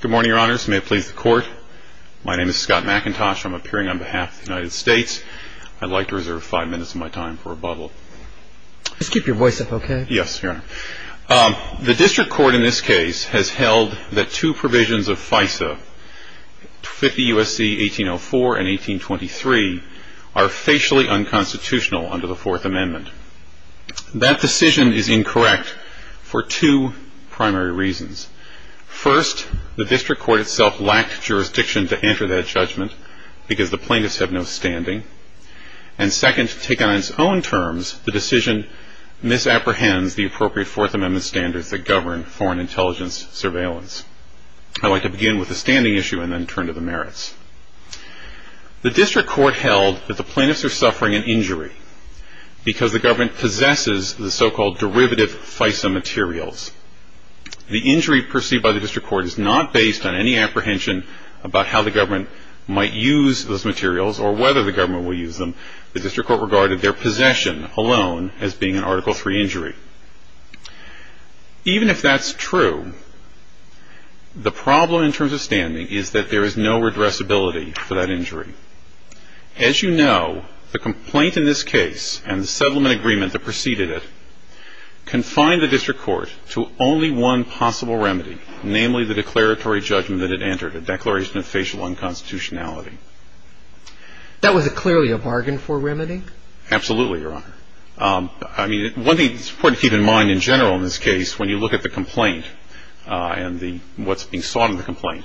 Good morning, your honors. May it please the court. My name is Scott McIntosh. I'm appearing on behalf of the United States. I'd like to reserve five minutes of my time for rebuttal. Just keep your voice up, okay? Yes, your honor. The district court in this case has held that two provisions of FISA, 50 U.S.C. 1804 and 1823, are facially unconstitutional under the Fourth Amendment. That decision is incorrect for two primary reasons. First, the district court itself lacked jurisdiction to enter that judgment because the plaintiffs have no standing. And second, taken on its own terms, the decision misapprehends the appropriate Fourth Amendment standards that govern foreign intelligence surveillance. I'd like to begin with the standing issue and then turn to the merits. The district court held that the plaintiffs are suffering an injury because the government possesses the so-called derivative FISA materials. The injury perceived by the district court is not based on any apprehension about how the government might use those materials or whether the government will use them. The district court regarded their possession alone as being an Article III injury. Even if that's true, the problem in terms of standing is that there is no redressability for that injury. As you know, the complaint in this case and the settlement agreement that preceded it confined the district court to only one possible remedy, namely the declaratory judgment that it entered, a declaration of facial unconstitutionality. That was clearly a bargain for remedy? Absolutely, Your Honor. I mean, one thing that's important to keep in mind in general in this case when you look at the complaint and what's being sought in the complaint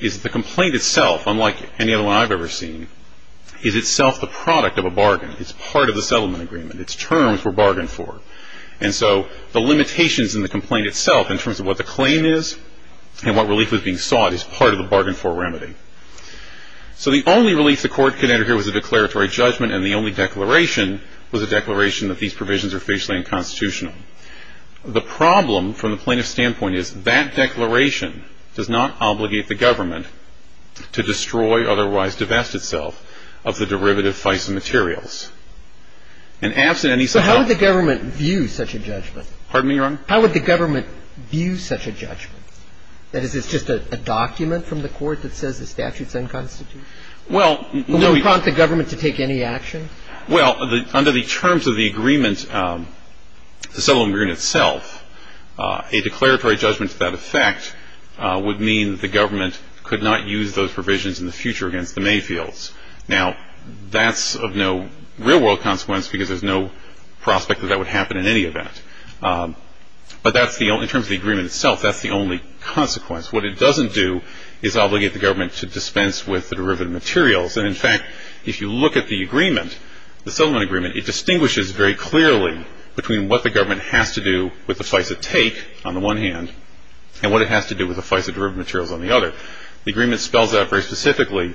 is that the complaint itself, unlike any other one I've ever seen, is itself the product of a bargain. It's part of the settlement agreement. Its terms were bargained for. And so the limitations in the complaint itself in terms of what the claim is and what relief was being sought is part of the bargain for remedy. So the only relief the court could enter here was a declaratory judgment, and the only declaration was a declaration that these provisions are facially unconstitutional. The problem from the plaintiff's standpoint is that declaration does not obligate the government to destroy, otherwise divest itself of the derivative FISA materials. So how would the government view such a judgment? Pardon me, Your Honor? How would the government view such a judgment? That is, it's just a document from the court that says the statute's unconstitutional? Well, no. Will it prompt the government to take any action? Well, under the terms of the agreement, the settlement agreement itself, a declaratory judgment to that effect would mean that the government could not use those provisions in the future against the Mayfields. Now, that's of no real-world consequence because there's no prospect that that would happen in any event. But in terms of the agreement itself, that's the only consequence. What it doesn't do is obligate the government to dispense with the derivative materials. And, in fact, if you look at the agreement, the settlement agreement, it distinguishes very clearly between what the government has to do with the FISA take on the one hand and what it has to do with the FISA derivative materials on the other. The agreement spells out very specifically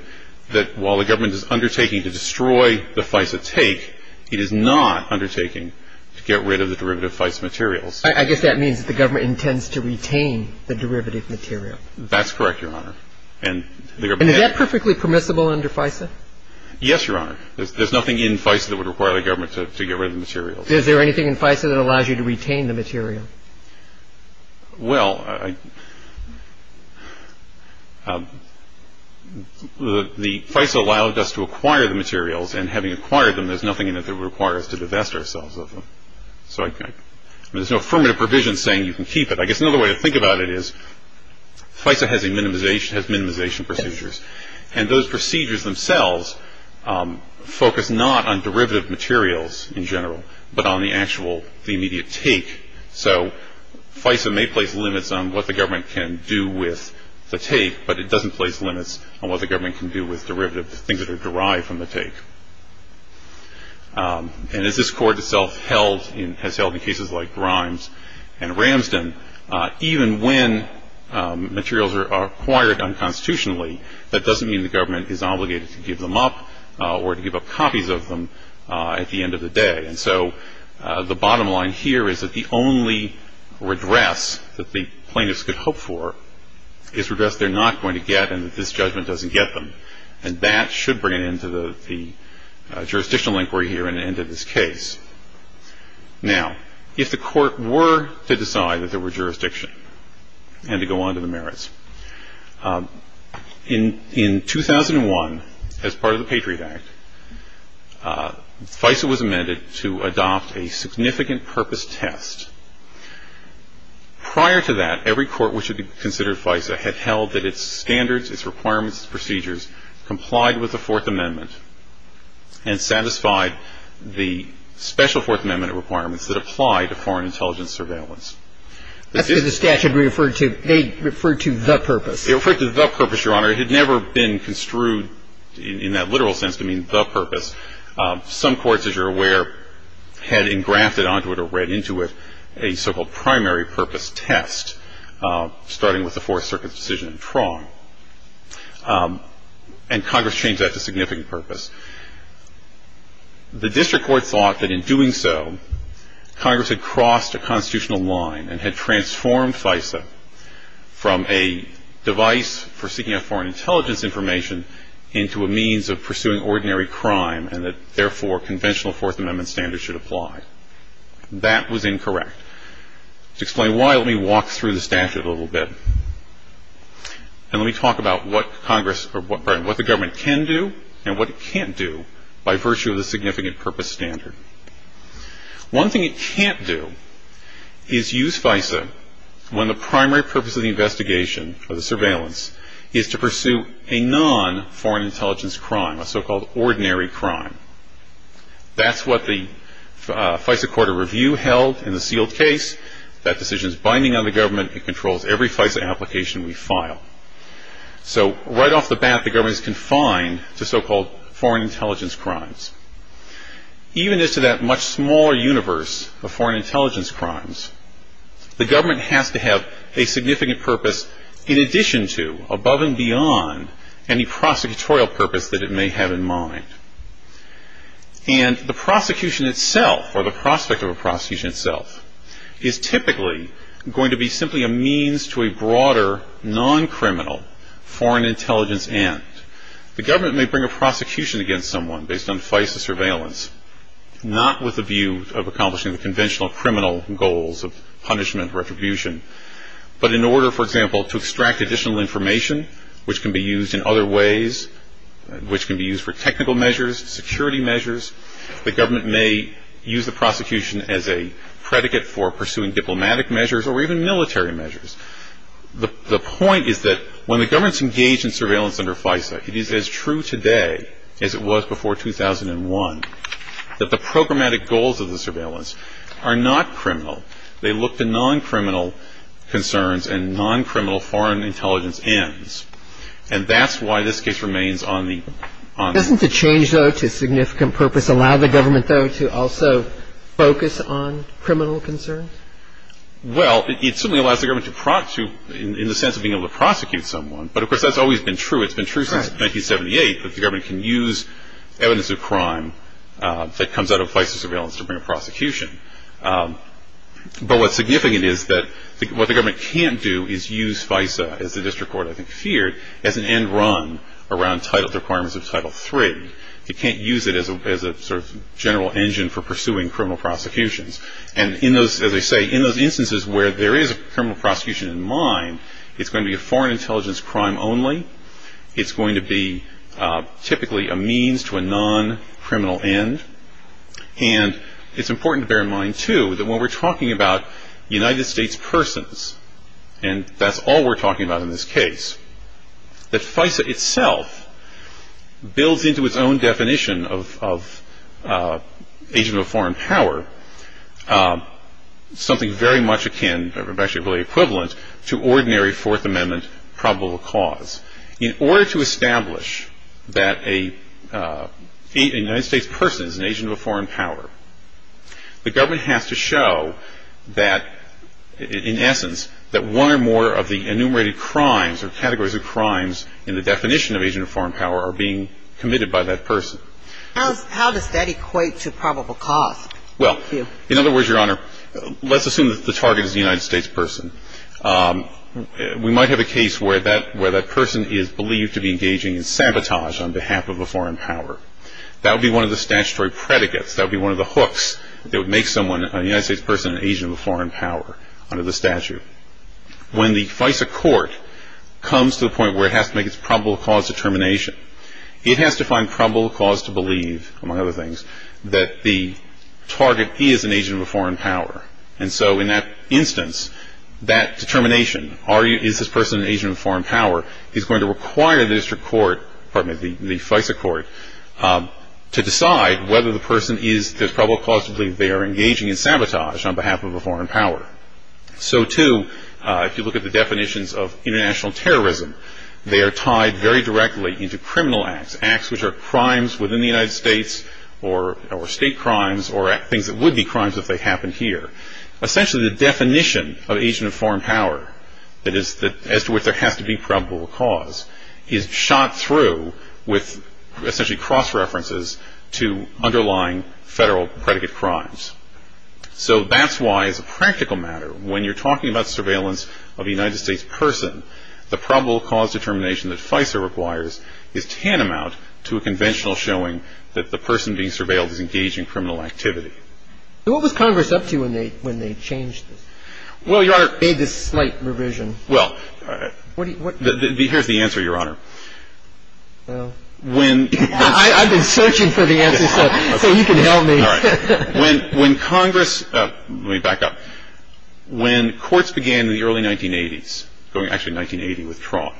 that while the government is undertaking to destroy the FISA take, it is not undertaking to get rid of the derivative FISA materials. I guess that means that the government intends to retain the derivative material. That's correct, Your Honor. And is that perfectly permissible under FISA? Yes, Your Honor. There's nothing in FISA that would require the government to get rid of the materials. Well, the FISA allowed us to acquire the materials. And having acquired them, there's nothing in it that would require us to divest ourselves of them. So there's no affirmative provision saying you can keep it. I guess another way to think about it is FISA has minimization procedures. And those procedures themselves focus not on derivative materials in general but on the actual immediate take. So FISA may place limits on what the government can do with the take, but it doesn't place limits on what the government can do with derivative things that are derived from the take. And as this Court itself has held in cases like Grimes and Ramsden, even when materials are acquired unconstitutionally, that doesn't mean the government is obligated to give them up or to give up copies of them at the end of the day. And so the bottom line here is that the only redress that the plaintiffs could hope for is redress they're not going to get and that this judgment doesn't get them. And that should bring an end to the jurisdictional inquiry here and an end to this case. Now, if the Court were to decide that there were jurisdiction and to go on to the merits, in 2001, as part of the Patriot Act, FISA was amended to adopt a significant purpose test. Prior to that, every court which had considered FISA had held that its standards, its requirements, its procedures complied with the Fourth Amendment and satisfied the special Fourth Amendment requirements that apply to foreign intelligence surveillance. That's what the statute referred to. They referred to the purpose. It referred to the purpose, Your Honor. It had never been construed in that literal sense to mean the purpose. Some courts, as you're aware, had engrafted onto it or read into it a so-called primary purpose test, starting with the Fourth Circuit's decision in Tron. And Congress changed that to significant purpose. The district court thought that in doing so, Congress had crossed a constitutional line and had transformed FISA from a device for seeking out foreign intelligence information into a means of pursuing ordinary crime and that, therefore, conventional Fourth Amendment standards should apply. That was incorrect. To explain why, let me walk through the statute a little bit. And let me talk about what the government can do and what it can't do by virtue of the significant purpose standard. One thing it can't do is use FISA when the primary purpose of the investigation, of the surveillance, is to pursue a non-foreign intelligence crime, a so-called ordinary crime. That's what the FISA Court of Review held in the sealed case. That decision is binding on the government. It controls every FISA application we file. So right off the bat, the government is confined to so-called foreign intelligence crimes. Even as to that much smaller universe of foreign intelligence crimes, the government has to have a significant purpose in addition to, above and beyond, any prosecutorial purpose that it may have in mind. And the prosecution itself, or the prospect of a prosecution itself, is typically going to be simply a means to a broader, non-criminal foreign intelligence end. The government may bring a prosecution against someone based on FISA surveillance, not with the view of accomplishing the conventional criminal goals of punishment, retribution, but in order, for example, to extract additional information, which can be used in other ways, which can be used for technical measures, security measures. The government may use the prosecution as a predicate for pursuing diplomatic measures or even military measures. The point is that when the government's engaged in surveillance under FISA, it is as true today as it was before 2001 that the programmatic goals of the surveillance are not criminal. They look to non-criminal concerns and non-criminal foreign intelligence ends. And that's why this case remains on the – Doesn't the change, though, to significant purpose allow the government, though, to also focus on criminal concerns? Well, it certainly allows the government to – in the sense of being able to prosecute someone. But of course, that's always been true. It's been true since 1978 that the government can use evidence of crime that comes out of FISA surveillance to bring a prosecution. But what's significant is that what the government can't do is use FISA, as the district court, I think, feared, as an end run around the requirements of Title III. It can't use it as a sort of general engine for pursuing criminal prosecutions. And in those – as I say, in those instances where there is a criminal prosecution in mind, it's going to be a foreign intelligence crime only. It's going to be typically a means to a non-criminal end. And it's important to bear in mind, too, that when we're talking about United States persons, and that's all we're talking about in this case, that FISA itself builds into its own definition of agent of foreign power something very much akin, or actually really equivalent, to ordinary Fourth Amendment probable cause. In order to establish that a United States person is an agent of a foreign power, the government has to show that, in essence, that one or more of the enumerated crimes or categories of crimes in the definition of agent of foreign power are being committed by that person. How does that equate to probable cause? Well, in other words, Your Honor, let's assume that the target is a United States person. We might have a case where that person is believed to be engaging in sabotage on behalf of a foreign power. That would be one of the statutory predicates. That would be one of the hooks that would make someone, a United States person, an agent of a foreign power under the statute. When the FISA court comes to the point where it has to make its probable cause determination, it has to find probable cause to believe, among other things, that the target is an agent of a foreign power. And so in that instance, that determination, is this person an agent of a foreign power, is going to require the FISA court to decide whether the person is, there's probable cause to believe they are engaging in sabotage on behalf of a foreign power. So, too, if you look at the definitions of international terrorism, they are tied very directly into criminal acts, acts which are crimes within the United States, or state crimes, or things that would be crimes if they happened here. Essentially, the definition of agent of foreign power, that is, as to which there has to be probable cause, is shot through with essentially cross-references to underlying federal predicate crimes. So that's why, as a practical matter, when you're talking about surveillance of a United States person, the probable cause determination that FISA requires is tantamount to a conventional showing that the person being surveilled is engaging in criminal activity. So what was Congress up to when they changed this? Well, Your Honor. Made this slight revision. Well, here's the answer, Your Honor. I've been searching for the answer, so you can help me. All right. When Congress, let me back up. When courts began in the early 1980s, actually 1980 with Tron,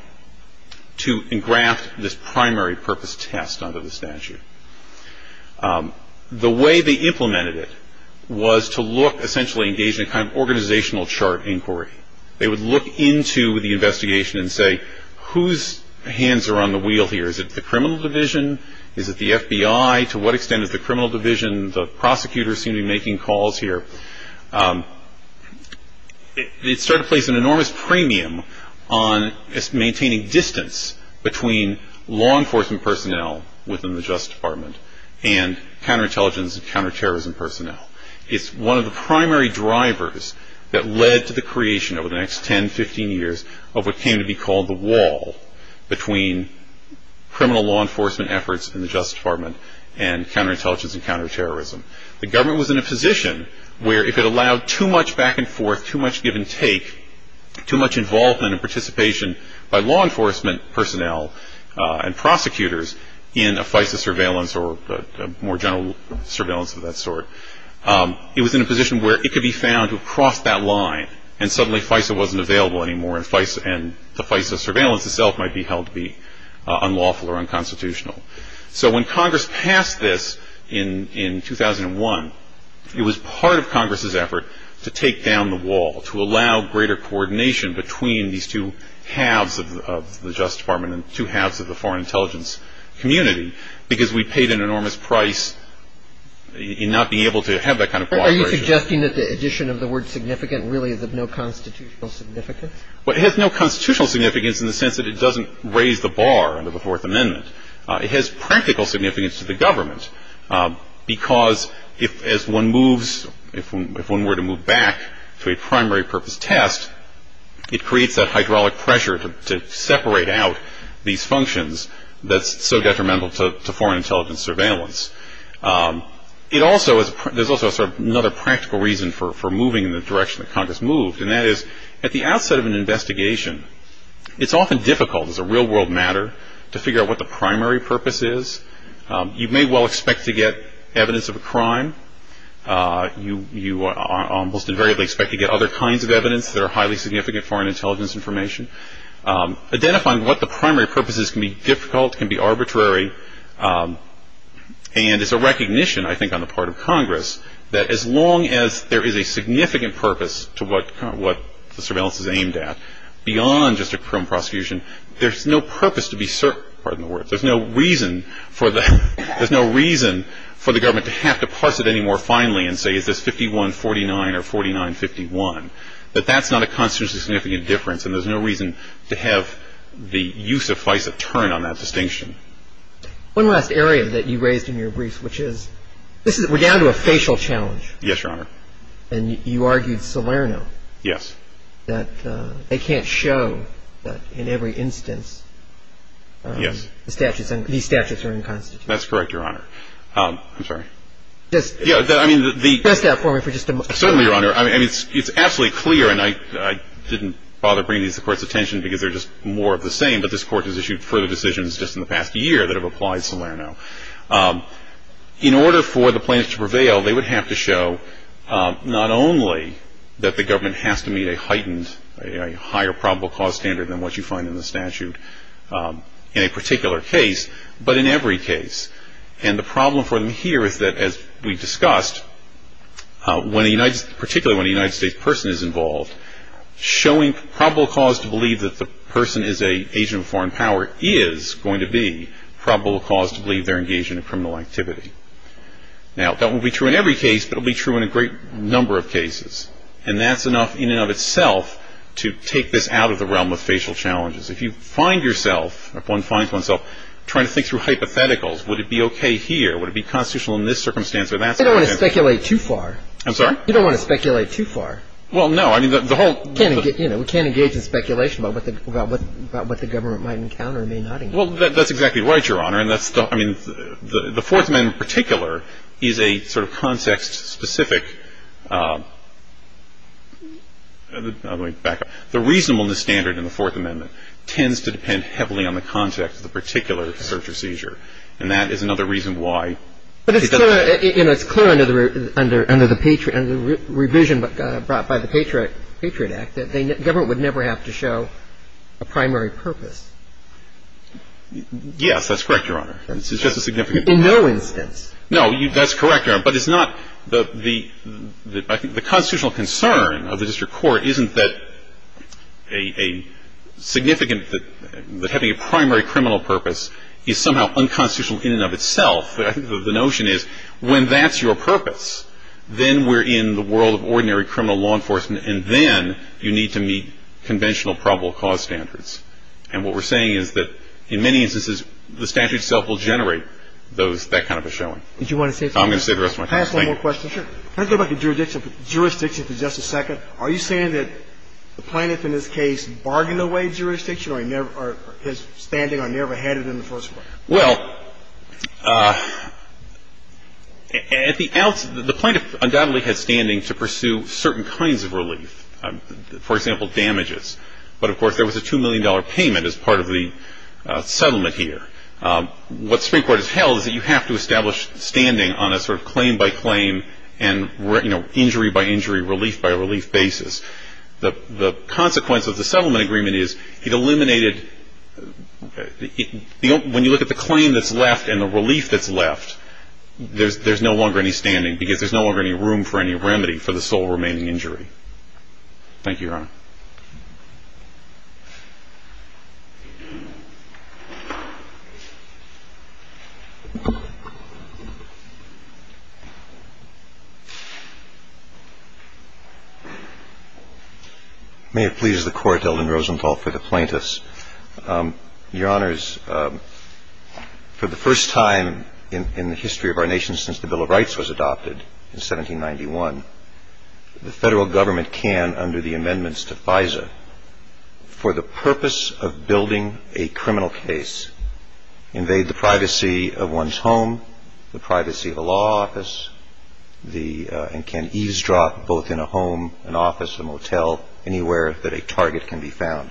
to engraft this primary purpose test under the statute, the way they implemented it was to look, essentially, engage in a kind of organizational chart inquiry. They would look into the investigation and say, whose hands are on the wheel here? Is it the criminal division? Is it the FBI? To what extent is the criminal division? The prosecutors seem to be making calls here. It started to place an enormous premium on maintaining distance between law enforcement personnel within the Justice Department and counterintelligence and counterterrorism personnel. It's one of the primary drivers that led to the creation over the next 10, 15 years, of what came to be called the wall between criminal law enforcement efforts in the Justice Department and counterintelligence and counterterrorism. The government was in a position where if it allowed too much back and forth, too much give and take, too much involvement and participation by law enforcement personnel and prosecutors in a FISA surveillance or more general surveillance of that sort, it was in a position where it could be found to have crossed that line and suddenly FISA wasn't available anymore and the FISA surveillance itself might be held to be unlawful or unconstitutional. So when Congress passed this in 2001, it was part of Congress's effort to take down the wall, to allow greater coordination between these two halves of the Justice Department and two halves of the foreign intelligence community because we paid an enormous price in not being able to have that kind of cooperation. Are you suggesting that the addition of the word significant really is of no constitutional significance? Well, it has no constitutional significance in the sense that it doesn't raise the bar under the Fourth Amendment. It has practical significance to the government because if one were to move back to a primary purpose test, it creates that hydraulic pressure to separate out these functions that's so detrimental to foreign intelligence surveillance. There's also another practical reason for moving in the direction that Congress moved, It's often difficult as a real-world matter to figure out what the primary purpose is. You may well expect to get evidence of a crime. You almost invariably expect to get other kinds of evidence that are highly significant foreign intelligence information. Identifying what the primary purpose is can be difficult, can be arbitrary, and it's a recognition, I think, on the part of Congress that as long as there is a significant purpose to what the surveillance is aimed at, beyond just a criminal prosecution, there's no purpose to be certain, pardon the word. There's no reason for the government to have to parse it any more finely and say, is this 51-49 or 49-51, that that's not a constitutionally significant difference and there's no reason to have the use of FISA turn on that distinction. One last area that you raised in your briefs, which is, we're down to a facial challenge. Yes, Your Honor. And you argued Salerno. Yes. That they can't show that in every instance the statutes, these statutes are inconstitutional. That's correct, Your Honor. I'm sorry. Just press that for me for just a moment. Certainly, Your Honor. I mean, it's absolutely clear, and I didn't bother bringing these to the Court's attention because they're just more of the same, but this Court has issued further decisions just in the past year that have applied Salerno. In order for the plaintiffs to prevail, they would have to show not only that the government has to meet a heightened, a higher probable cause standard than what you find in the statute in a particular case, but in every case. And the problem for them here is that, as we discussed, particularly when a United States person is involved, showing probable cause to believe that the person is an agent of foreign power is going to be probable cause to believe they're engaged in a criminal activity. Now, that won't be true in every case, but it will be true in a great number of cases. And that's enough in and of itself to take this out of the realm of facial challenges. If you find yourself, if one finds oneself trying to think through hypotheticals, would it be okay here? Would it be constitutional in this circumstance or that circumstance? You don't want to speculate too far. I'm sorry? You don't want to speculate too far. Well, no. We can't engage in speculation about what the government might encounter and may not encounter. Well, that's exactly right, Your Honor. And that's the – I mean, the Fourth Amendment in particular is a sort of context-specific – I'm going to back up. The reasonableness standard in the Fourth Amendment tends to depend heavily on the context of the particular search or seizure. And that is another reason why it doesn't matter. It's clear under the revision brought by the Patriot Act that the government would never have to show a primary purpose. Yes, that's correct, Your Honor. It's just a significant point. In no instance. No, that's correct, Your Honor. But it's not – the constitutional concern of the district court isn't that a significant – that having a primary criminal purpose is somehow unconstitutional in and of itself. The notion is when that's your purpose, then we're in the world of ordinary criminal law enforcement, and then you need to meet conventional probable cause standards. And what we're saying is that in many instances, the statute itself will generate those – that kind of a showing. Did you want to say something else? I'm going to say the rest of my time. Can I ask one more question? Sure. Can I go back to jurisdiction for just a second? Are you saying that the plaintiff in this case bargained away jurisdiction or his standing or never had it in the first place? Well, at the – the plaintiff undoubtedly had standing to pursue certain kinds of relief, for example, damages. But, of course, there was a $2 million payment as part of the settlement here. What Supreme Court has held is that you have to establish standing on a sort of claim-by-claim and, you know, injury-by-injury, relief-by-relief basis. The consequence of the settlement agreement is it eliminated – when you look at the claim that's left and the relief that's left, there's no longer any standing because there's no longer any room for any remedy for the sole remaining injury. Thank you, Your Honor. May it please the Court, Elden Rosenthal, for the plaintiffs. Your Honors, for the first time in the history of our nation since the Bill of Rights was adopted in 1791, the Federal Government can, under the amendments to FISA, for the purpose of building a criminal case, invade the privacy of one's home, the privacy of a law office, and can eavesdrop both in a home, an office, a motel, anywhere that a target can be found.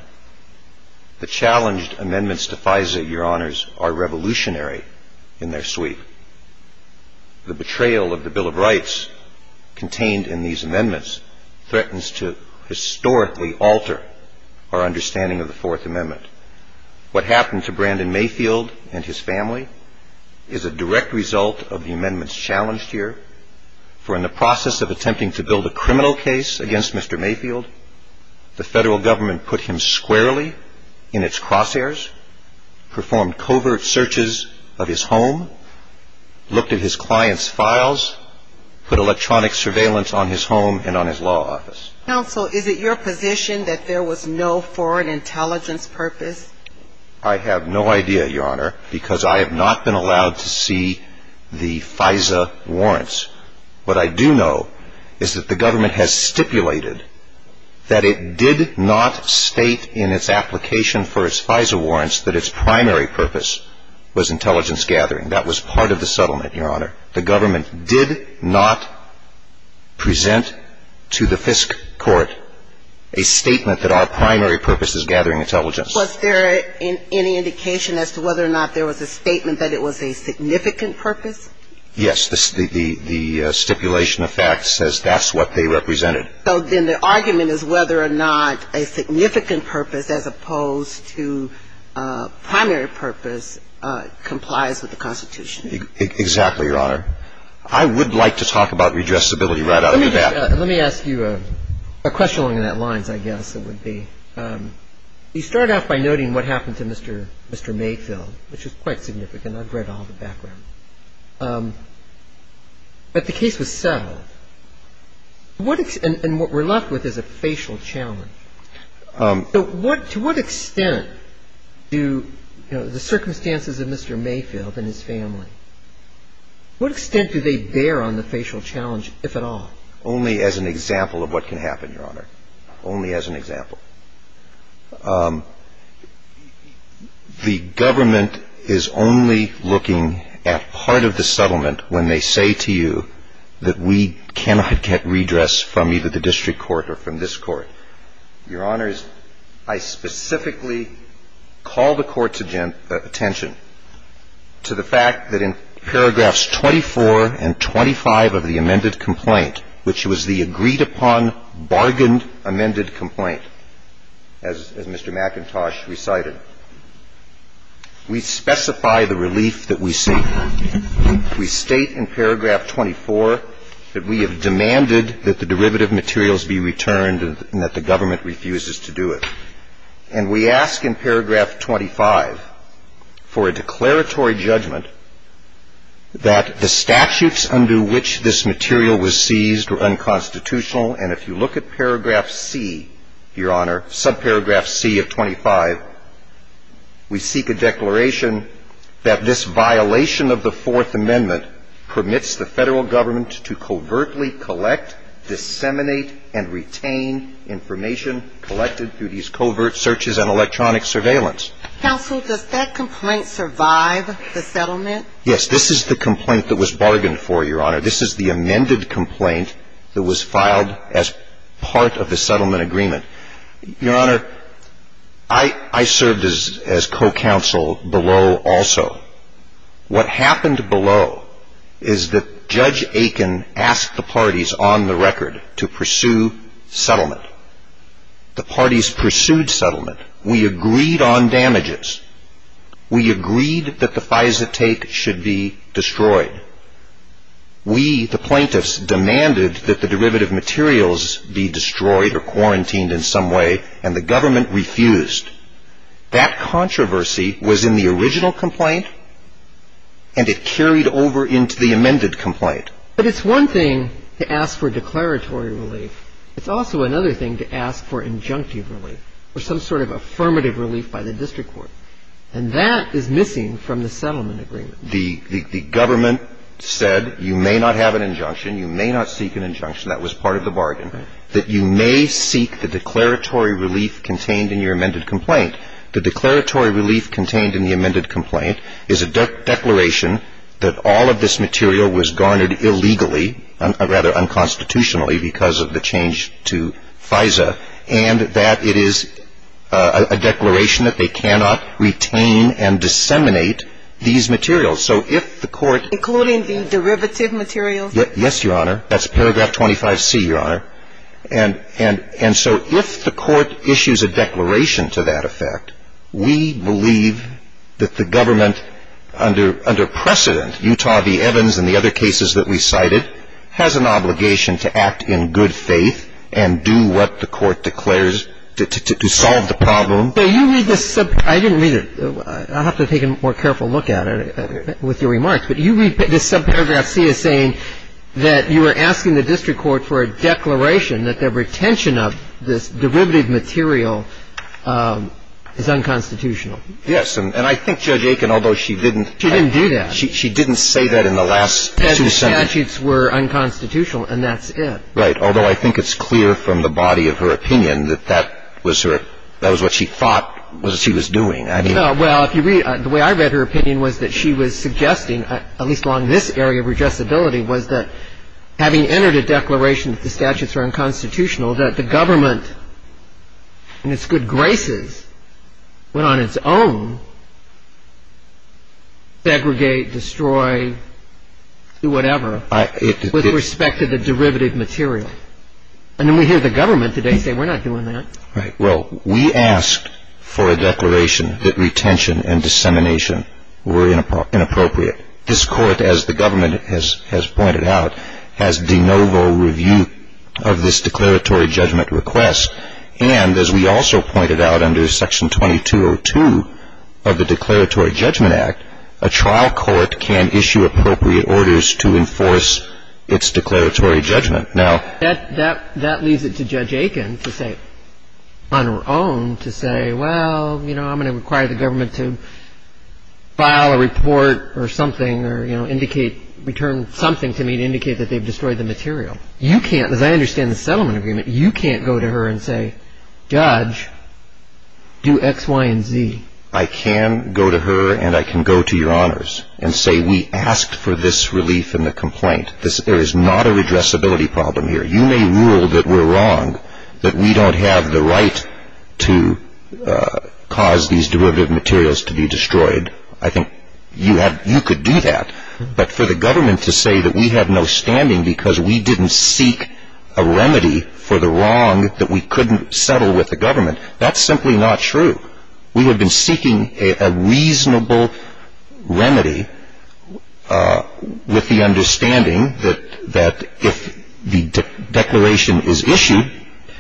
The challenged amendments to FISA, Your Honors, are revolutionary in their sweep. The betrayal of the Bill of Rights contained in these amendments threatens to historically alter our understanding of the Fourth Amendment. What happened to Brandon Mayfield and his family is a direct result of the amendments challenged here, for in the process of attempting to build a criminal case against Mr. Mayfield, the Federal Government put him squarely in its crosshairs, performed covert searches of his home, looked at his client's files, put electronic surveillance on his home and on his law office. Counsel, is it your position that there was no foreign intelligence purpose? I have no idea, Your Honor, because I have not been allowed to see the FISA warrants. What I do know is that the government has stipulated that it did not state in its application for its FISA warrants that its primary purpose was intelligence gathering. That was part of the settlement, Your Honor. The government did not present to the FISC court a statement that our primary purpose is gathering intelligence. Was there any indication as to whether or not there was a statement that it was a significant purpose? Yes. The stipulation of fact says that's what they represented. So then the argument is whether or not a significant purpose as opposed to primary purpose complies with the Constitution? Exactly, Your Honor. I would like to talk about redressability right out of the bat. Let me ask you a question along those lines, I guess it would be. You start off by noting what happened to Mr. Mayfield, which is quite significant. I've read all the background. But the case was settled. And what we're left with is a facial challenge. To what extent do, you know, the circumstances of Mr. Mayfield and his family, what extent do they bear on the facial challenge, if at all? Only as an example of what can happen, Your Honor. Only as an example. The government is only looking at part of the settlement when they say to you that we cannot get redress from either the district court or from this court. Your Honors, I specifically call the Court's attention to the fact that in paragraphs 24 and 25 of the amended complaint, which was the agreed-upon, bargained amended complaint, as Mr. McIntosh recited, we specify the relief that we seek. We state in paragraph 24 that we have demanded that the derivative materials be returned and that the government refuses to do it. And we ask in paragraph 25 for a declaratory judgment that the statutes under which this material was seized were unconstitutional. And if you look at paragraph C, Your Honor, subparagraph C of 25, we seek a declaration that this violation of the Fourth Amendment permits the Federal Government to covertly disseminate and retain information collected through these covert searches and electronic surveillance. Counsel, does that complaint survive the settlement? Yes. This is the complaint that was bargained for, Your Honor. This is the amended complaint that was filed as part of the settlement agreement. Your Honor, I served as co-counsel below also. What happened below is that Judge Aiken asked the parties on the record to pursue settlement. The parties pursued settlement. We agreed on damages. We agreed that the FISA take should be destroyed. We, the plaintiffs, demanded that the derivative materials be destroyed or quarantined in some way, and the government refused. That controversy was in the original complaint, and it carried over into the amended complaint. But it's one thing to ask for declaratory relief. It's also another thing to ask for injunctive relief or some sort of affirmative relief by the district court. And that is missing from the settlement agreement. The government said you may not have an injunction, you may not seek an injunction. That was part of the bargain. Right. And the other thing is that you may seek the declaratory relief contained in your amended complaint. The declaratory relief contained in the amended complaint is a declaration that all of this material was garnered illegally, rather unconstitutionally because of the change to FISA, and that it is a declaration that they cannot retain and disseminate these materials. So if the court ---- Including the derivative materials? Yes, Your Honor. That's paragraph 25C, Your Honor. And so if the court issues a declaration to that effect, we believe that the government under precedent, Utah v. Evans and the other cases that we cited, has an obligation to act in good faith and do what the court declares to solve the problem. So you read this ---- I didn't read it. I'll have to take a more careful look at it with your remarks. But you read this subparagraph C as saying that you were asking the district court for a declaration that the retention of this derivative material is unconstitutional. Yes. And I think Judge Aiken, although she didn't ---- She didn't do that. She didn't say that in the last two sentences. The statutes were unconstitutional, and that's it. Right. Although I think it's clear from the body of her opinion that that was her ---- that was what she thought she was doing. Well, if you read ---- the way I read her opinion was that she was suggesting, at least along this area of redressability, was that having entered a declaration that the statutes are unconstitutional, that the government, in its good graces, went on its own, segregate, destroy, do whatever, with respect to the derivative material. And then we hear the government today say we're not doing that. Right. Well, we asked for a declaration that retention and dissemination were inappropriate. This Court, as the government has pointed out, has de novo review of this declaratory judgment request. And, as we also pointed out under Section 2202 of the Declaratory Judgment Act, a trial court can issue appropriate orders to enforce its declaratory judgment. That leads it to Judge Aiken to say, on her own, to say, well, you know, I'm going to require the government to file a report or something or, you know, return something to me to indicate that they've destroyed the material. You can't, as I understand the settlement agreement, you can't go to her and say, Judge, do X, Y, and Z. I can go to her and I can go to Your Honors and say we asked for this relief in the complaint. There is not a redressability problem here. You may rule that we're wrong, that we don't have the right to cause these derivative materials to be destroyed. I think you could do that. But for the government to say that we have no standing because we didn't seek a remedy for the wrong that we couldn't settle with the government, that's simply not true. We would have been seeking a reasonable remedy with the understanding that if the declaration is issued.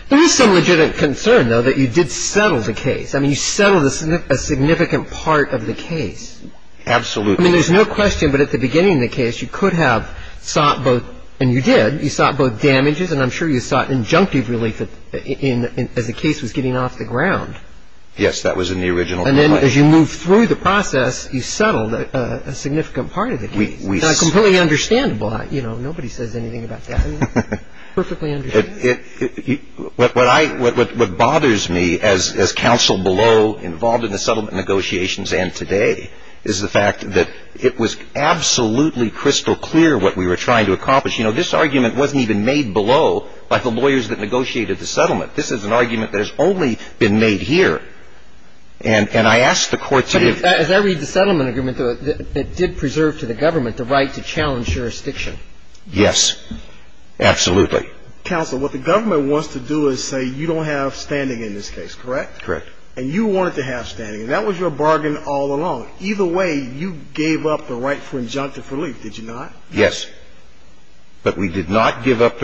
There is some legitimate concern, though, that you did settle the case. I mean, you settled a significant part of the case. Absolutely. I mean, there's no question, but at the beginning of the case, you could have sought both and you did, you sought both damages and I'm sure you sought injunctive relief as the case was getting off the ground. Yes, that was in the original complaint. And then as you move through the process, you settled a significant part of the case. It's not completely understandable. You know, nobody says anything about that. It's perfectly understandable. What bothers me as counsel below, involved in the settlement negotiations and today, is the fact that it was absolutely crystal clear what we were trying to accomplish. You know, this argument wasn't even made below by the lawyers that negotiated the settlement. This is an argument that has only been made here. And I ask the Court to give. As I read the settlement agreement that did preserve to the government the right to challenge jurisdiction. Yes, absolutely. Counsel, what the government wants to do is say you don't have standing in this case, correct? Correct. And you wanted to have standing. That was your bargain all along. Either way, you gave up the right for injunctive relief, did you not? Yes. I don't mean to tie you up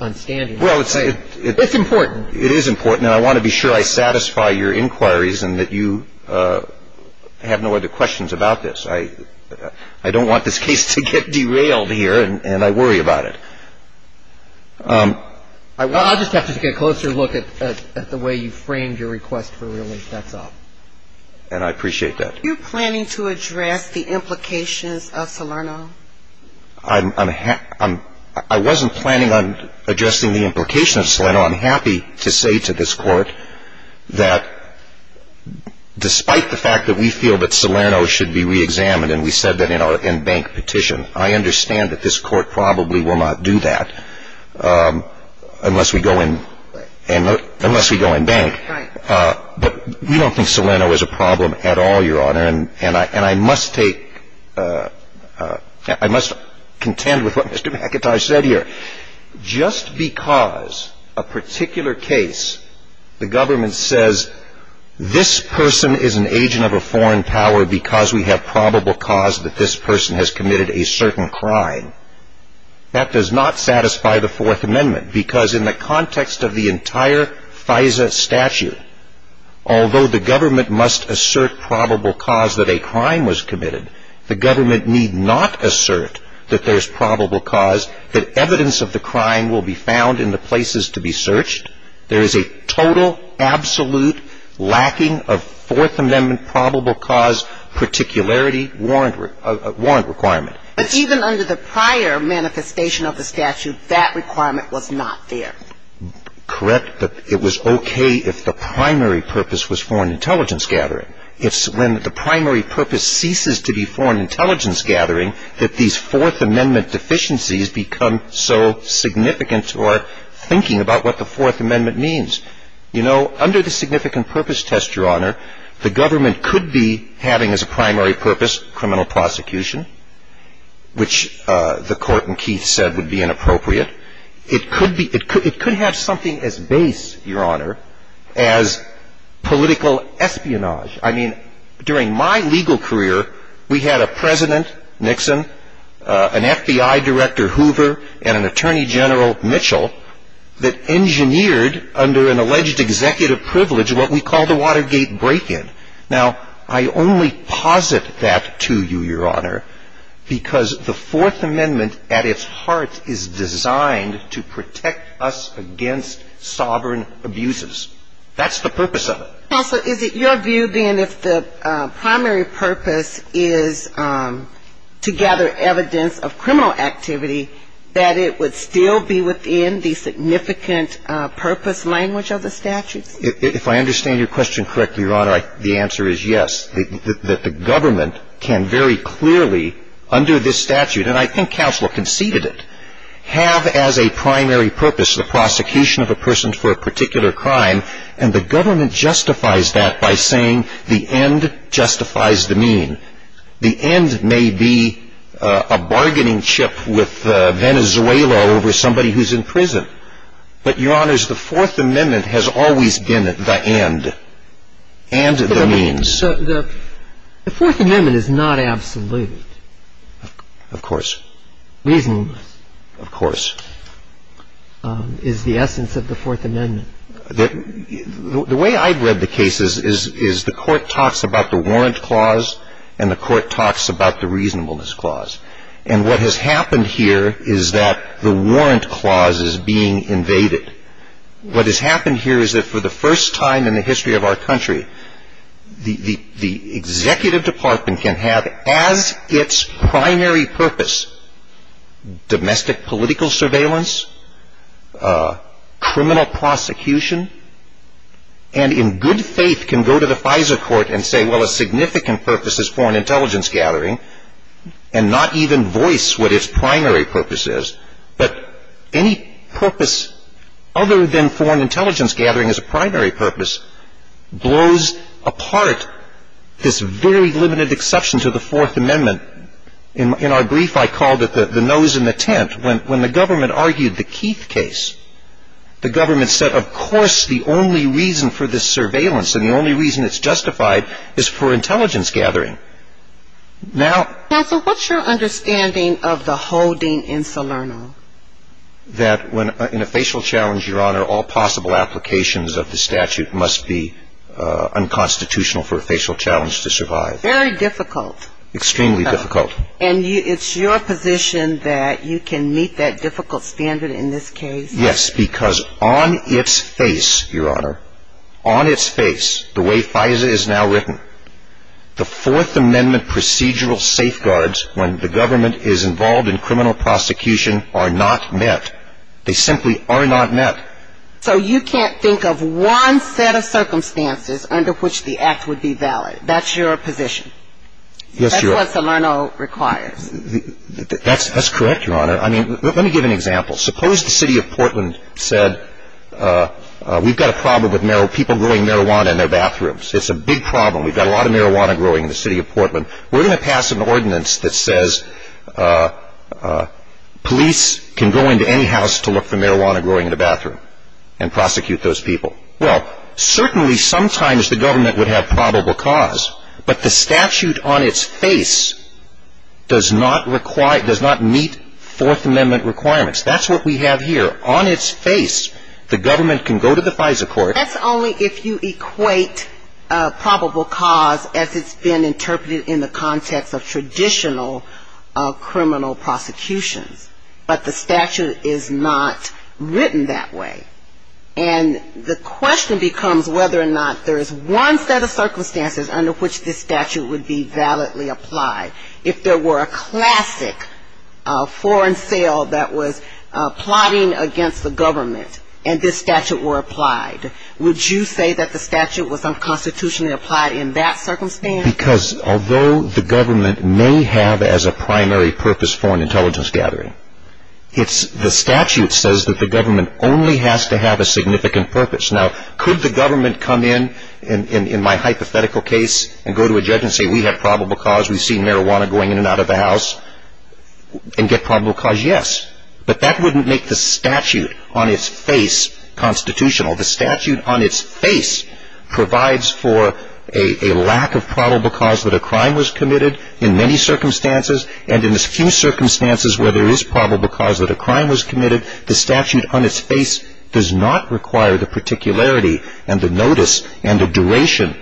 on standing. It's important. It is important. And I want to be sure I satisfy your inquiries and that you have no other questions about this. I don't want this case to get derailed here, and I worry about it. I'll just have to take a closer look at the way you framed your request for relief. That's all. And I appreciate that. Are you planning to address the implications of Salerno? I wasn't planning on addressing the implications of Salerno. I'm happy to say to this Court that despite the fact that we feel that Salerno should be reexamined, and we said that in our in-bank petition, I understand that this Court probably will not do that unless we go in bank. Right. But we don't think Salerno is a problem at all, Your Honor. And I must contend with what Mr. McIntosh said here. Just because a particular case the government says, this person is an agent of a foreign power because we have probable cause that this person has committed a certain crime, that does not satisfy the Fourth Amendment, because in the context of the entire FISA statute, although the government must assert probable cause that a crime was committed, the government need not assert that there's probable cause, that evidence of the crime will be found in the places to be searched. There is a total, absolute lacking of Fourth Amendment probable cause particularity warrant requirement. But even under the prior manifestation of the statute, that requirement was not there. Correct. But it was okay if the primary purpose was foreign intelligence gathering. It's when the primary purpose ceases to be foreign intelligence gathering that these Fourth Amendment deficiencies become so significant to our thinking about what the Fourth Amendment means. You know, under the significant purpose test, Your Honor, the government could be having as a primary purpose criminal prosecution, which the Court in Keith said would be inappropriate. It could have something as base, Your Honor, as political espionage. I mean, during my legal career, we had a president, Nixon, an FBI director, Hoover, and an attorney general, Mitchell, that engineered under an alleged executive privilege what we call the Watergate break-in. Now, I only posit that to you, Your Honor, because the Fourth Amendment at its heart is designed to protect us against sovereign abuses. That's the purpose of it. Counsel, is it your view, then, if the primary purpose is to gather evidence of criminal activity, that it would still be within the significant purpose language of the statute? If I understand your question correctly, Your Honor, the answer is yes, that the government can very clearly, under this statute, and I think counsel conceded it, have as a primary purpose the prosecution of a person for a particular crime, and the government justifies that by saying the end justifies the mean. The end may be a bargaining chip with Venezuela over somebody who's in prison, but, Your Honor, the Fourth Amendment has always been the end and the means. The Fourth Amendment is not absolute. Of course. Reasonableness. Of course. Is the essence of the Fourth Amendment. The way I've read the case is the court talks about the warrant clause, and the court talks about the reasonableness clause. And what has happened here is that the warrant clause is being invaded. What has happened here is that for the first time in the history of our country, the executive department can have as its primary purpose domestic political surveillance, criminal prosecution, and in good faith can go to the FISA court and say, well, a significant purpose is foreign intelligence gathering, and not even voice what its primary purpose is. But any purpose other than foreign intelligence gathering as a primary purpose blows apart this very limited exception to the Fourth Amendment. In our brief, I called it the nose in the tent. When the government argued the Keith case, the government said, of course, the only reason for this surveillance and the only reason it's justified is for intelligence gathering. Counsel, what's your understanding of the holding in Salerno? That in a facial challenge, Your Honor, all possible applications of the statute must be unconstitutional for a facial challenge to survive. Very difficult. Extremely difficult. And it's your position that you can meet that difficult standard in this case? Yes, because on its face, Your Honor, on its face, the way FISA is now written, the Fourth Amendment procedural safeguards when the government is involved in criminal prosecution are not met. They simply are not met. So you can't think of one set of circumstances under which the act would be valid. That's your position. Yes, Your Honor. That's what Salerno requires. That's correct, Your Honor. I mean, let me give an example. Suppose the city of Portland said, we've got a problem with people doing marijuana in their bathrooms. It's a big problem. We've got a lot of marijuana growing in the city of Portland. We're going to pass an ordinance that says police can go into any house to look for marijuana growing in the bathroom and prosecute those people. Well, certainly sometimes the government would have probable cause, but the statute on its face does not meet Fourth Amendment requirements. That's what we have here. On its face, the government can go to the FISA court. That's only if you equate probable cause as it's been interpreted in the context of traditional criminal prosecutions. But the statute is not written that way. And the question becomes whether or not there is one set of circumstances under which this statute would be validly applied. If there were a classic foreign sale that was plotting against the government and this statute were applied, would you say that the statute was unconstitutionally applied in that circumstance? Because although the government may have as a primary purpose foreign intelligence gathering, the statute says that the government only has to have a significant purpose. Now, could the government come in, in my hypothetical case, and go to a judge and say we have probable cause, we've seen marijuana going in and out of the house, and get probable cause? Yes. But that wouldn't make the statute on its face constitutional. The statute on its face provides for a lack of probable cause that a crime was committed in many circumstances, and in the few circumstances where there is probable cause that a crime was committed, the statute on its face does not require the particularity and the notice and the duration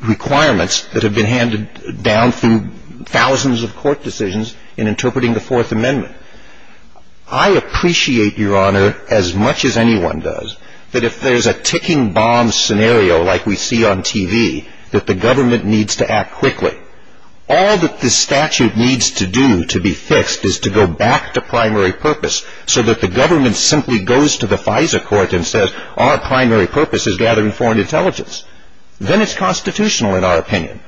requirements that have been handed down through thousands of court decisions in interpreting the Fourth Amendment. I appreciate, Your Honor, as much as anyone does, that if there's a ticking bomb scenario like we see on TV, that the government needs to act quickly. All that the statute needs to do to be fixed is to go back to primary purpose so that the government simply goes to the FISA court and says our primary purpose is gathering foreign intelligence. Then it's constitutional in our opinion.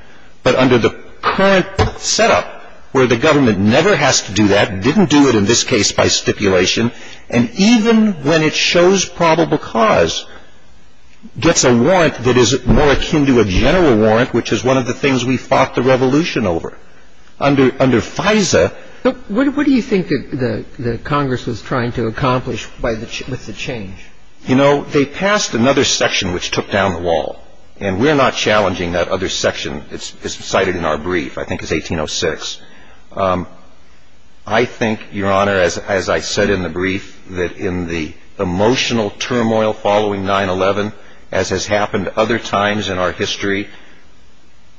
But under the current setup, where the government never has to do that, didn't do it in this case by stipulation, and even when it shows probable cause, gets a warrant that is more akin to a general warrant, which is one of the things we fought the revolution over. Under FISA... What do you think that Congress was trying to accomplish with the change? You know, they passed another section which took down the wall, and we're not challenging that other section as cited in our brief, I think it's 1806. I think, Your Honor, as I said in the brief, that in the emotional turmoil following 9-11, as has happened other times in our history,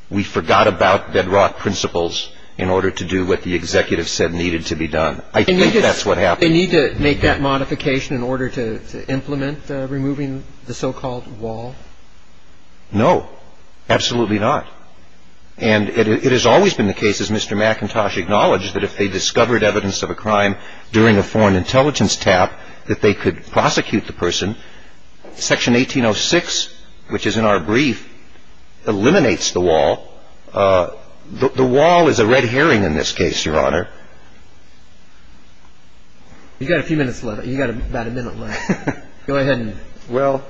we forgot about bedrock principles in order to do what the executive said needed to be done. I think that's what happened. They need to make that modification in order to implement removing the so-called wall? No, absolutely not. And it has always been the case, as Mr. McIntosh acknowledged, that if they discovered evidence of a crime during a foreign intelligence tap, that they could prosecute the person. Section 1806, which is in our brief, eliminates the wall. The wall is a red herring in this case, Your Honor. You've got a few minutes left. You've got about a minute left. Go ahead and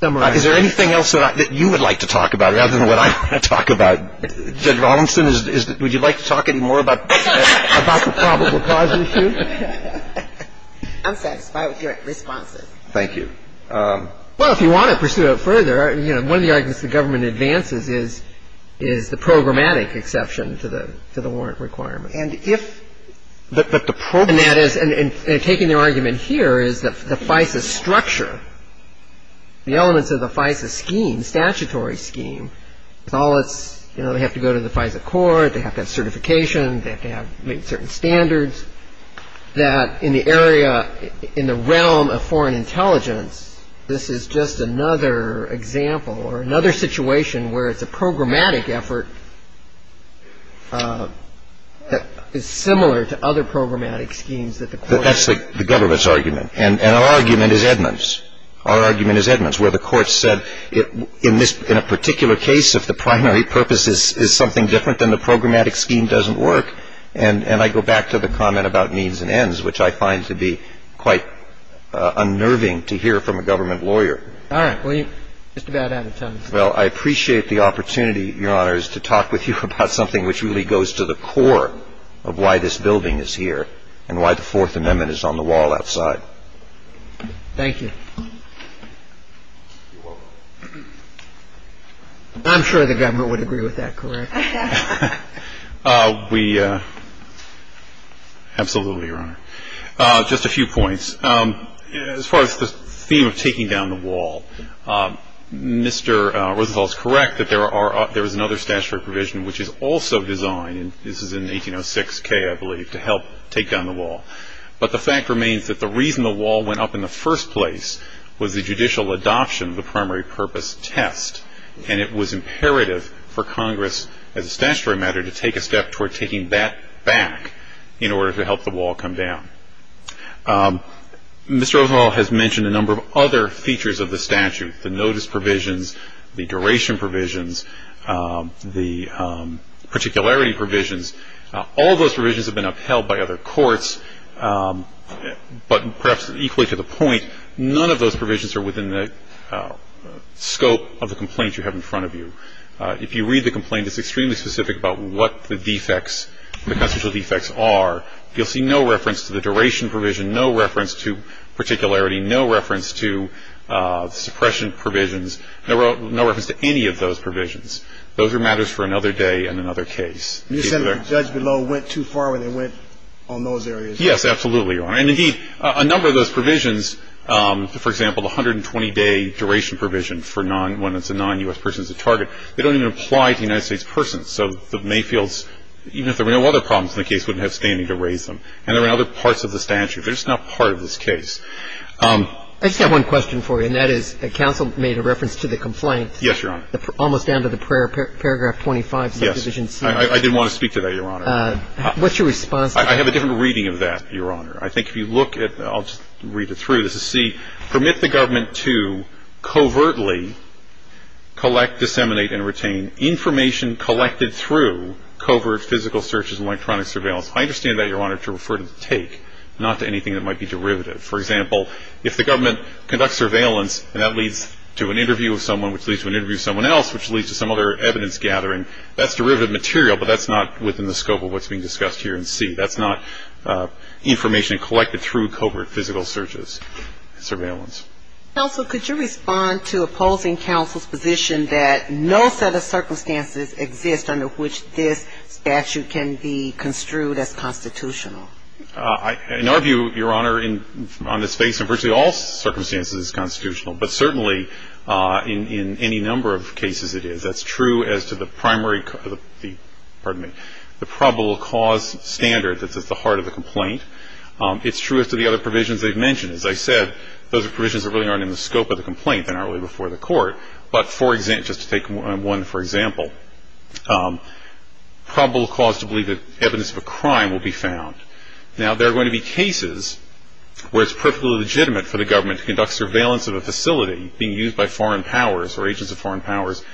summarize. Is there anything else that you would like to talk about rather than what I want to talk about? Judge Rollinson, would you like to talk any more about the probable cause issue? I'm satisfied with your responses. Thank you. Well, if you want to pursue it further, you know, one of the arguments the government advances is the programmatic exception to the warrant requirements. And if the programmatic – And that is – and taking their argument here is that the FISA structure, the elements of the FISA scheme, statutory scheme, is all that's – you know, they have to go to the FISA court, they have to have certification, they have to meet certain standards, that in the area – in the realm of foreign intelligence, this is just another example or another situation where it's a programmatic effort that is similar to other programmatic schemes that the court – That's the government's argument. And our argument is Edmund's. Our argument is Edmund's, where the court said in this – Well, I appreciate the opportunity, Your Honor, to talk with you about something which really goes to the core of why this building is here and why the Fourth Amendment is on the wall outside. Thank you. I'm sure the government would agree with that, correct? We – absolutely, Your Honor. Just a few points. As far as the theme of taking down the wall, Mr. Rosenthal is correct that there are – there is another statutory provision which is also designed, and this is in 1806K, I believe, to help take down the wall. But the fact remains that the reason the wall went up in the first place was the judicial adoption of the primary purpose test, and it was imperative for Congress as a statutory matter to take a step toward taking that back in order to help the wall come down. Mr. Rosenthal has mentioned a number of other features of the statute, the notice provisions, the duration provisions, the particularity provisions. All those provisions have been upheld by other courts, but perhaps equally to the point, none of those provisions are within the scope of the complaint you have in front of you. If you read the complaint, it's extremely specific about what the defects – the constitutional defects are. You'll see no reference to the duration provision, no reference to particularity, no reference to suppression provisions, no reference to any of those provisions. Those are matters for another day and another case. You're saying the judge below went too far when they went on those areas? Yes, absolutely, Your Honor. And, indeed, a number of those provisions, for example, the 120-day duration provision for non – when it's a non-U.S. person as a target, they don't even apply to United States persons. So the Mayfields, even if there were no other problems in the case, wouldn't have standing to raise them. And there are other parts of the statute. They're just not part of this case. I just have one question for you, and that is counsel made a reference to the complaint. Yes, Your Honor. Almost down to the paragraph 25, subdivision C. Yes. I didn't want to speak to that, Your Honor. What's your response to that? I have a different reading of that, Your Honor. I think if you look at – I'll just read it through. This is C. Permit the government to covertly collect, disseminate, and retain information collected through covert physical searches and electronic surveillance. I understand that, Your Honor, to refer to the take, not to anything that might be derivative. For example, if the government conducts surveillance, and that leads to an interview with someone, which leads to an interview with someone else, which leads to some other evidence gathering, that's derivative material, but that's not within the scope of what's being discussed here in C. That's not information collected through covert physical searches and surveillance. Counsel, could you respond to opposing counsel's position that no set of circumstances exist under which this statute can be construed as constitutional? In our view, Your Honor, on this case, in virtually all circumstances it's constitutional, but certainly in any number of cases it is. That's true as to the primary – pardon me – the probable cause standard that's at the heart of the complaint. It's true as to the other provisions they've mentioned. As I said, those provisions really aren't in the scope of the complaint. They're not really before the court. But just to take one for example, probable cause to believe that evidence of a crime will be found. Now, there are going to be cases where it's perfectly legitimate for the government to conduct surveillance of a facility being used by foreign powers or agents of foreign powers,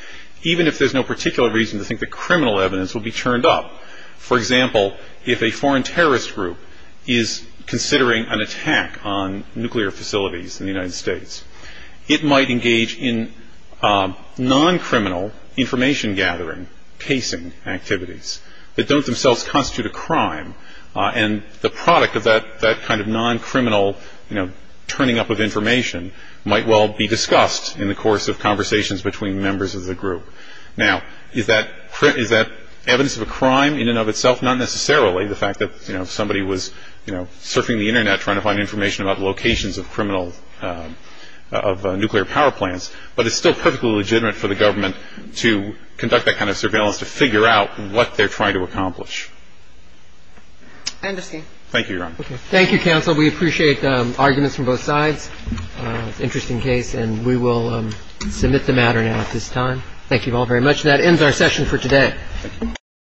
even if there's no particular reason to think that criminal evidence will be turned up. For example, if a foreign terrorist group is considering an attack on nuclear facilities in the United States, it might engage in non-criminal information gathering, casing activities, that don't themselves constitute a crime. And the product of that kind of non-criminal turning up of information might well be discussed in the course of conversations between members of the group. Now, is that evidence of a crime in and of itself? Not necessarily. The fact that somebody was surfing the Internet trying to find information about locations of nuclear power plants, but it's still perfectly legitimate for the government to conduct that kind of surveillance to figure out what they're trying to accomplish. I understand. Thank you, Your Honor. Thank you, counsel. We appreciate arguments from both sides. It's an interesting case, and we will submit the matter now at this time. Thank you all very much. And that ends our session for today.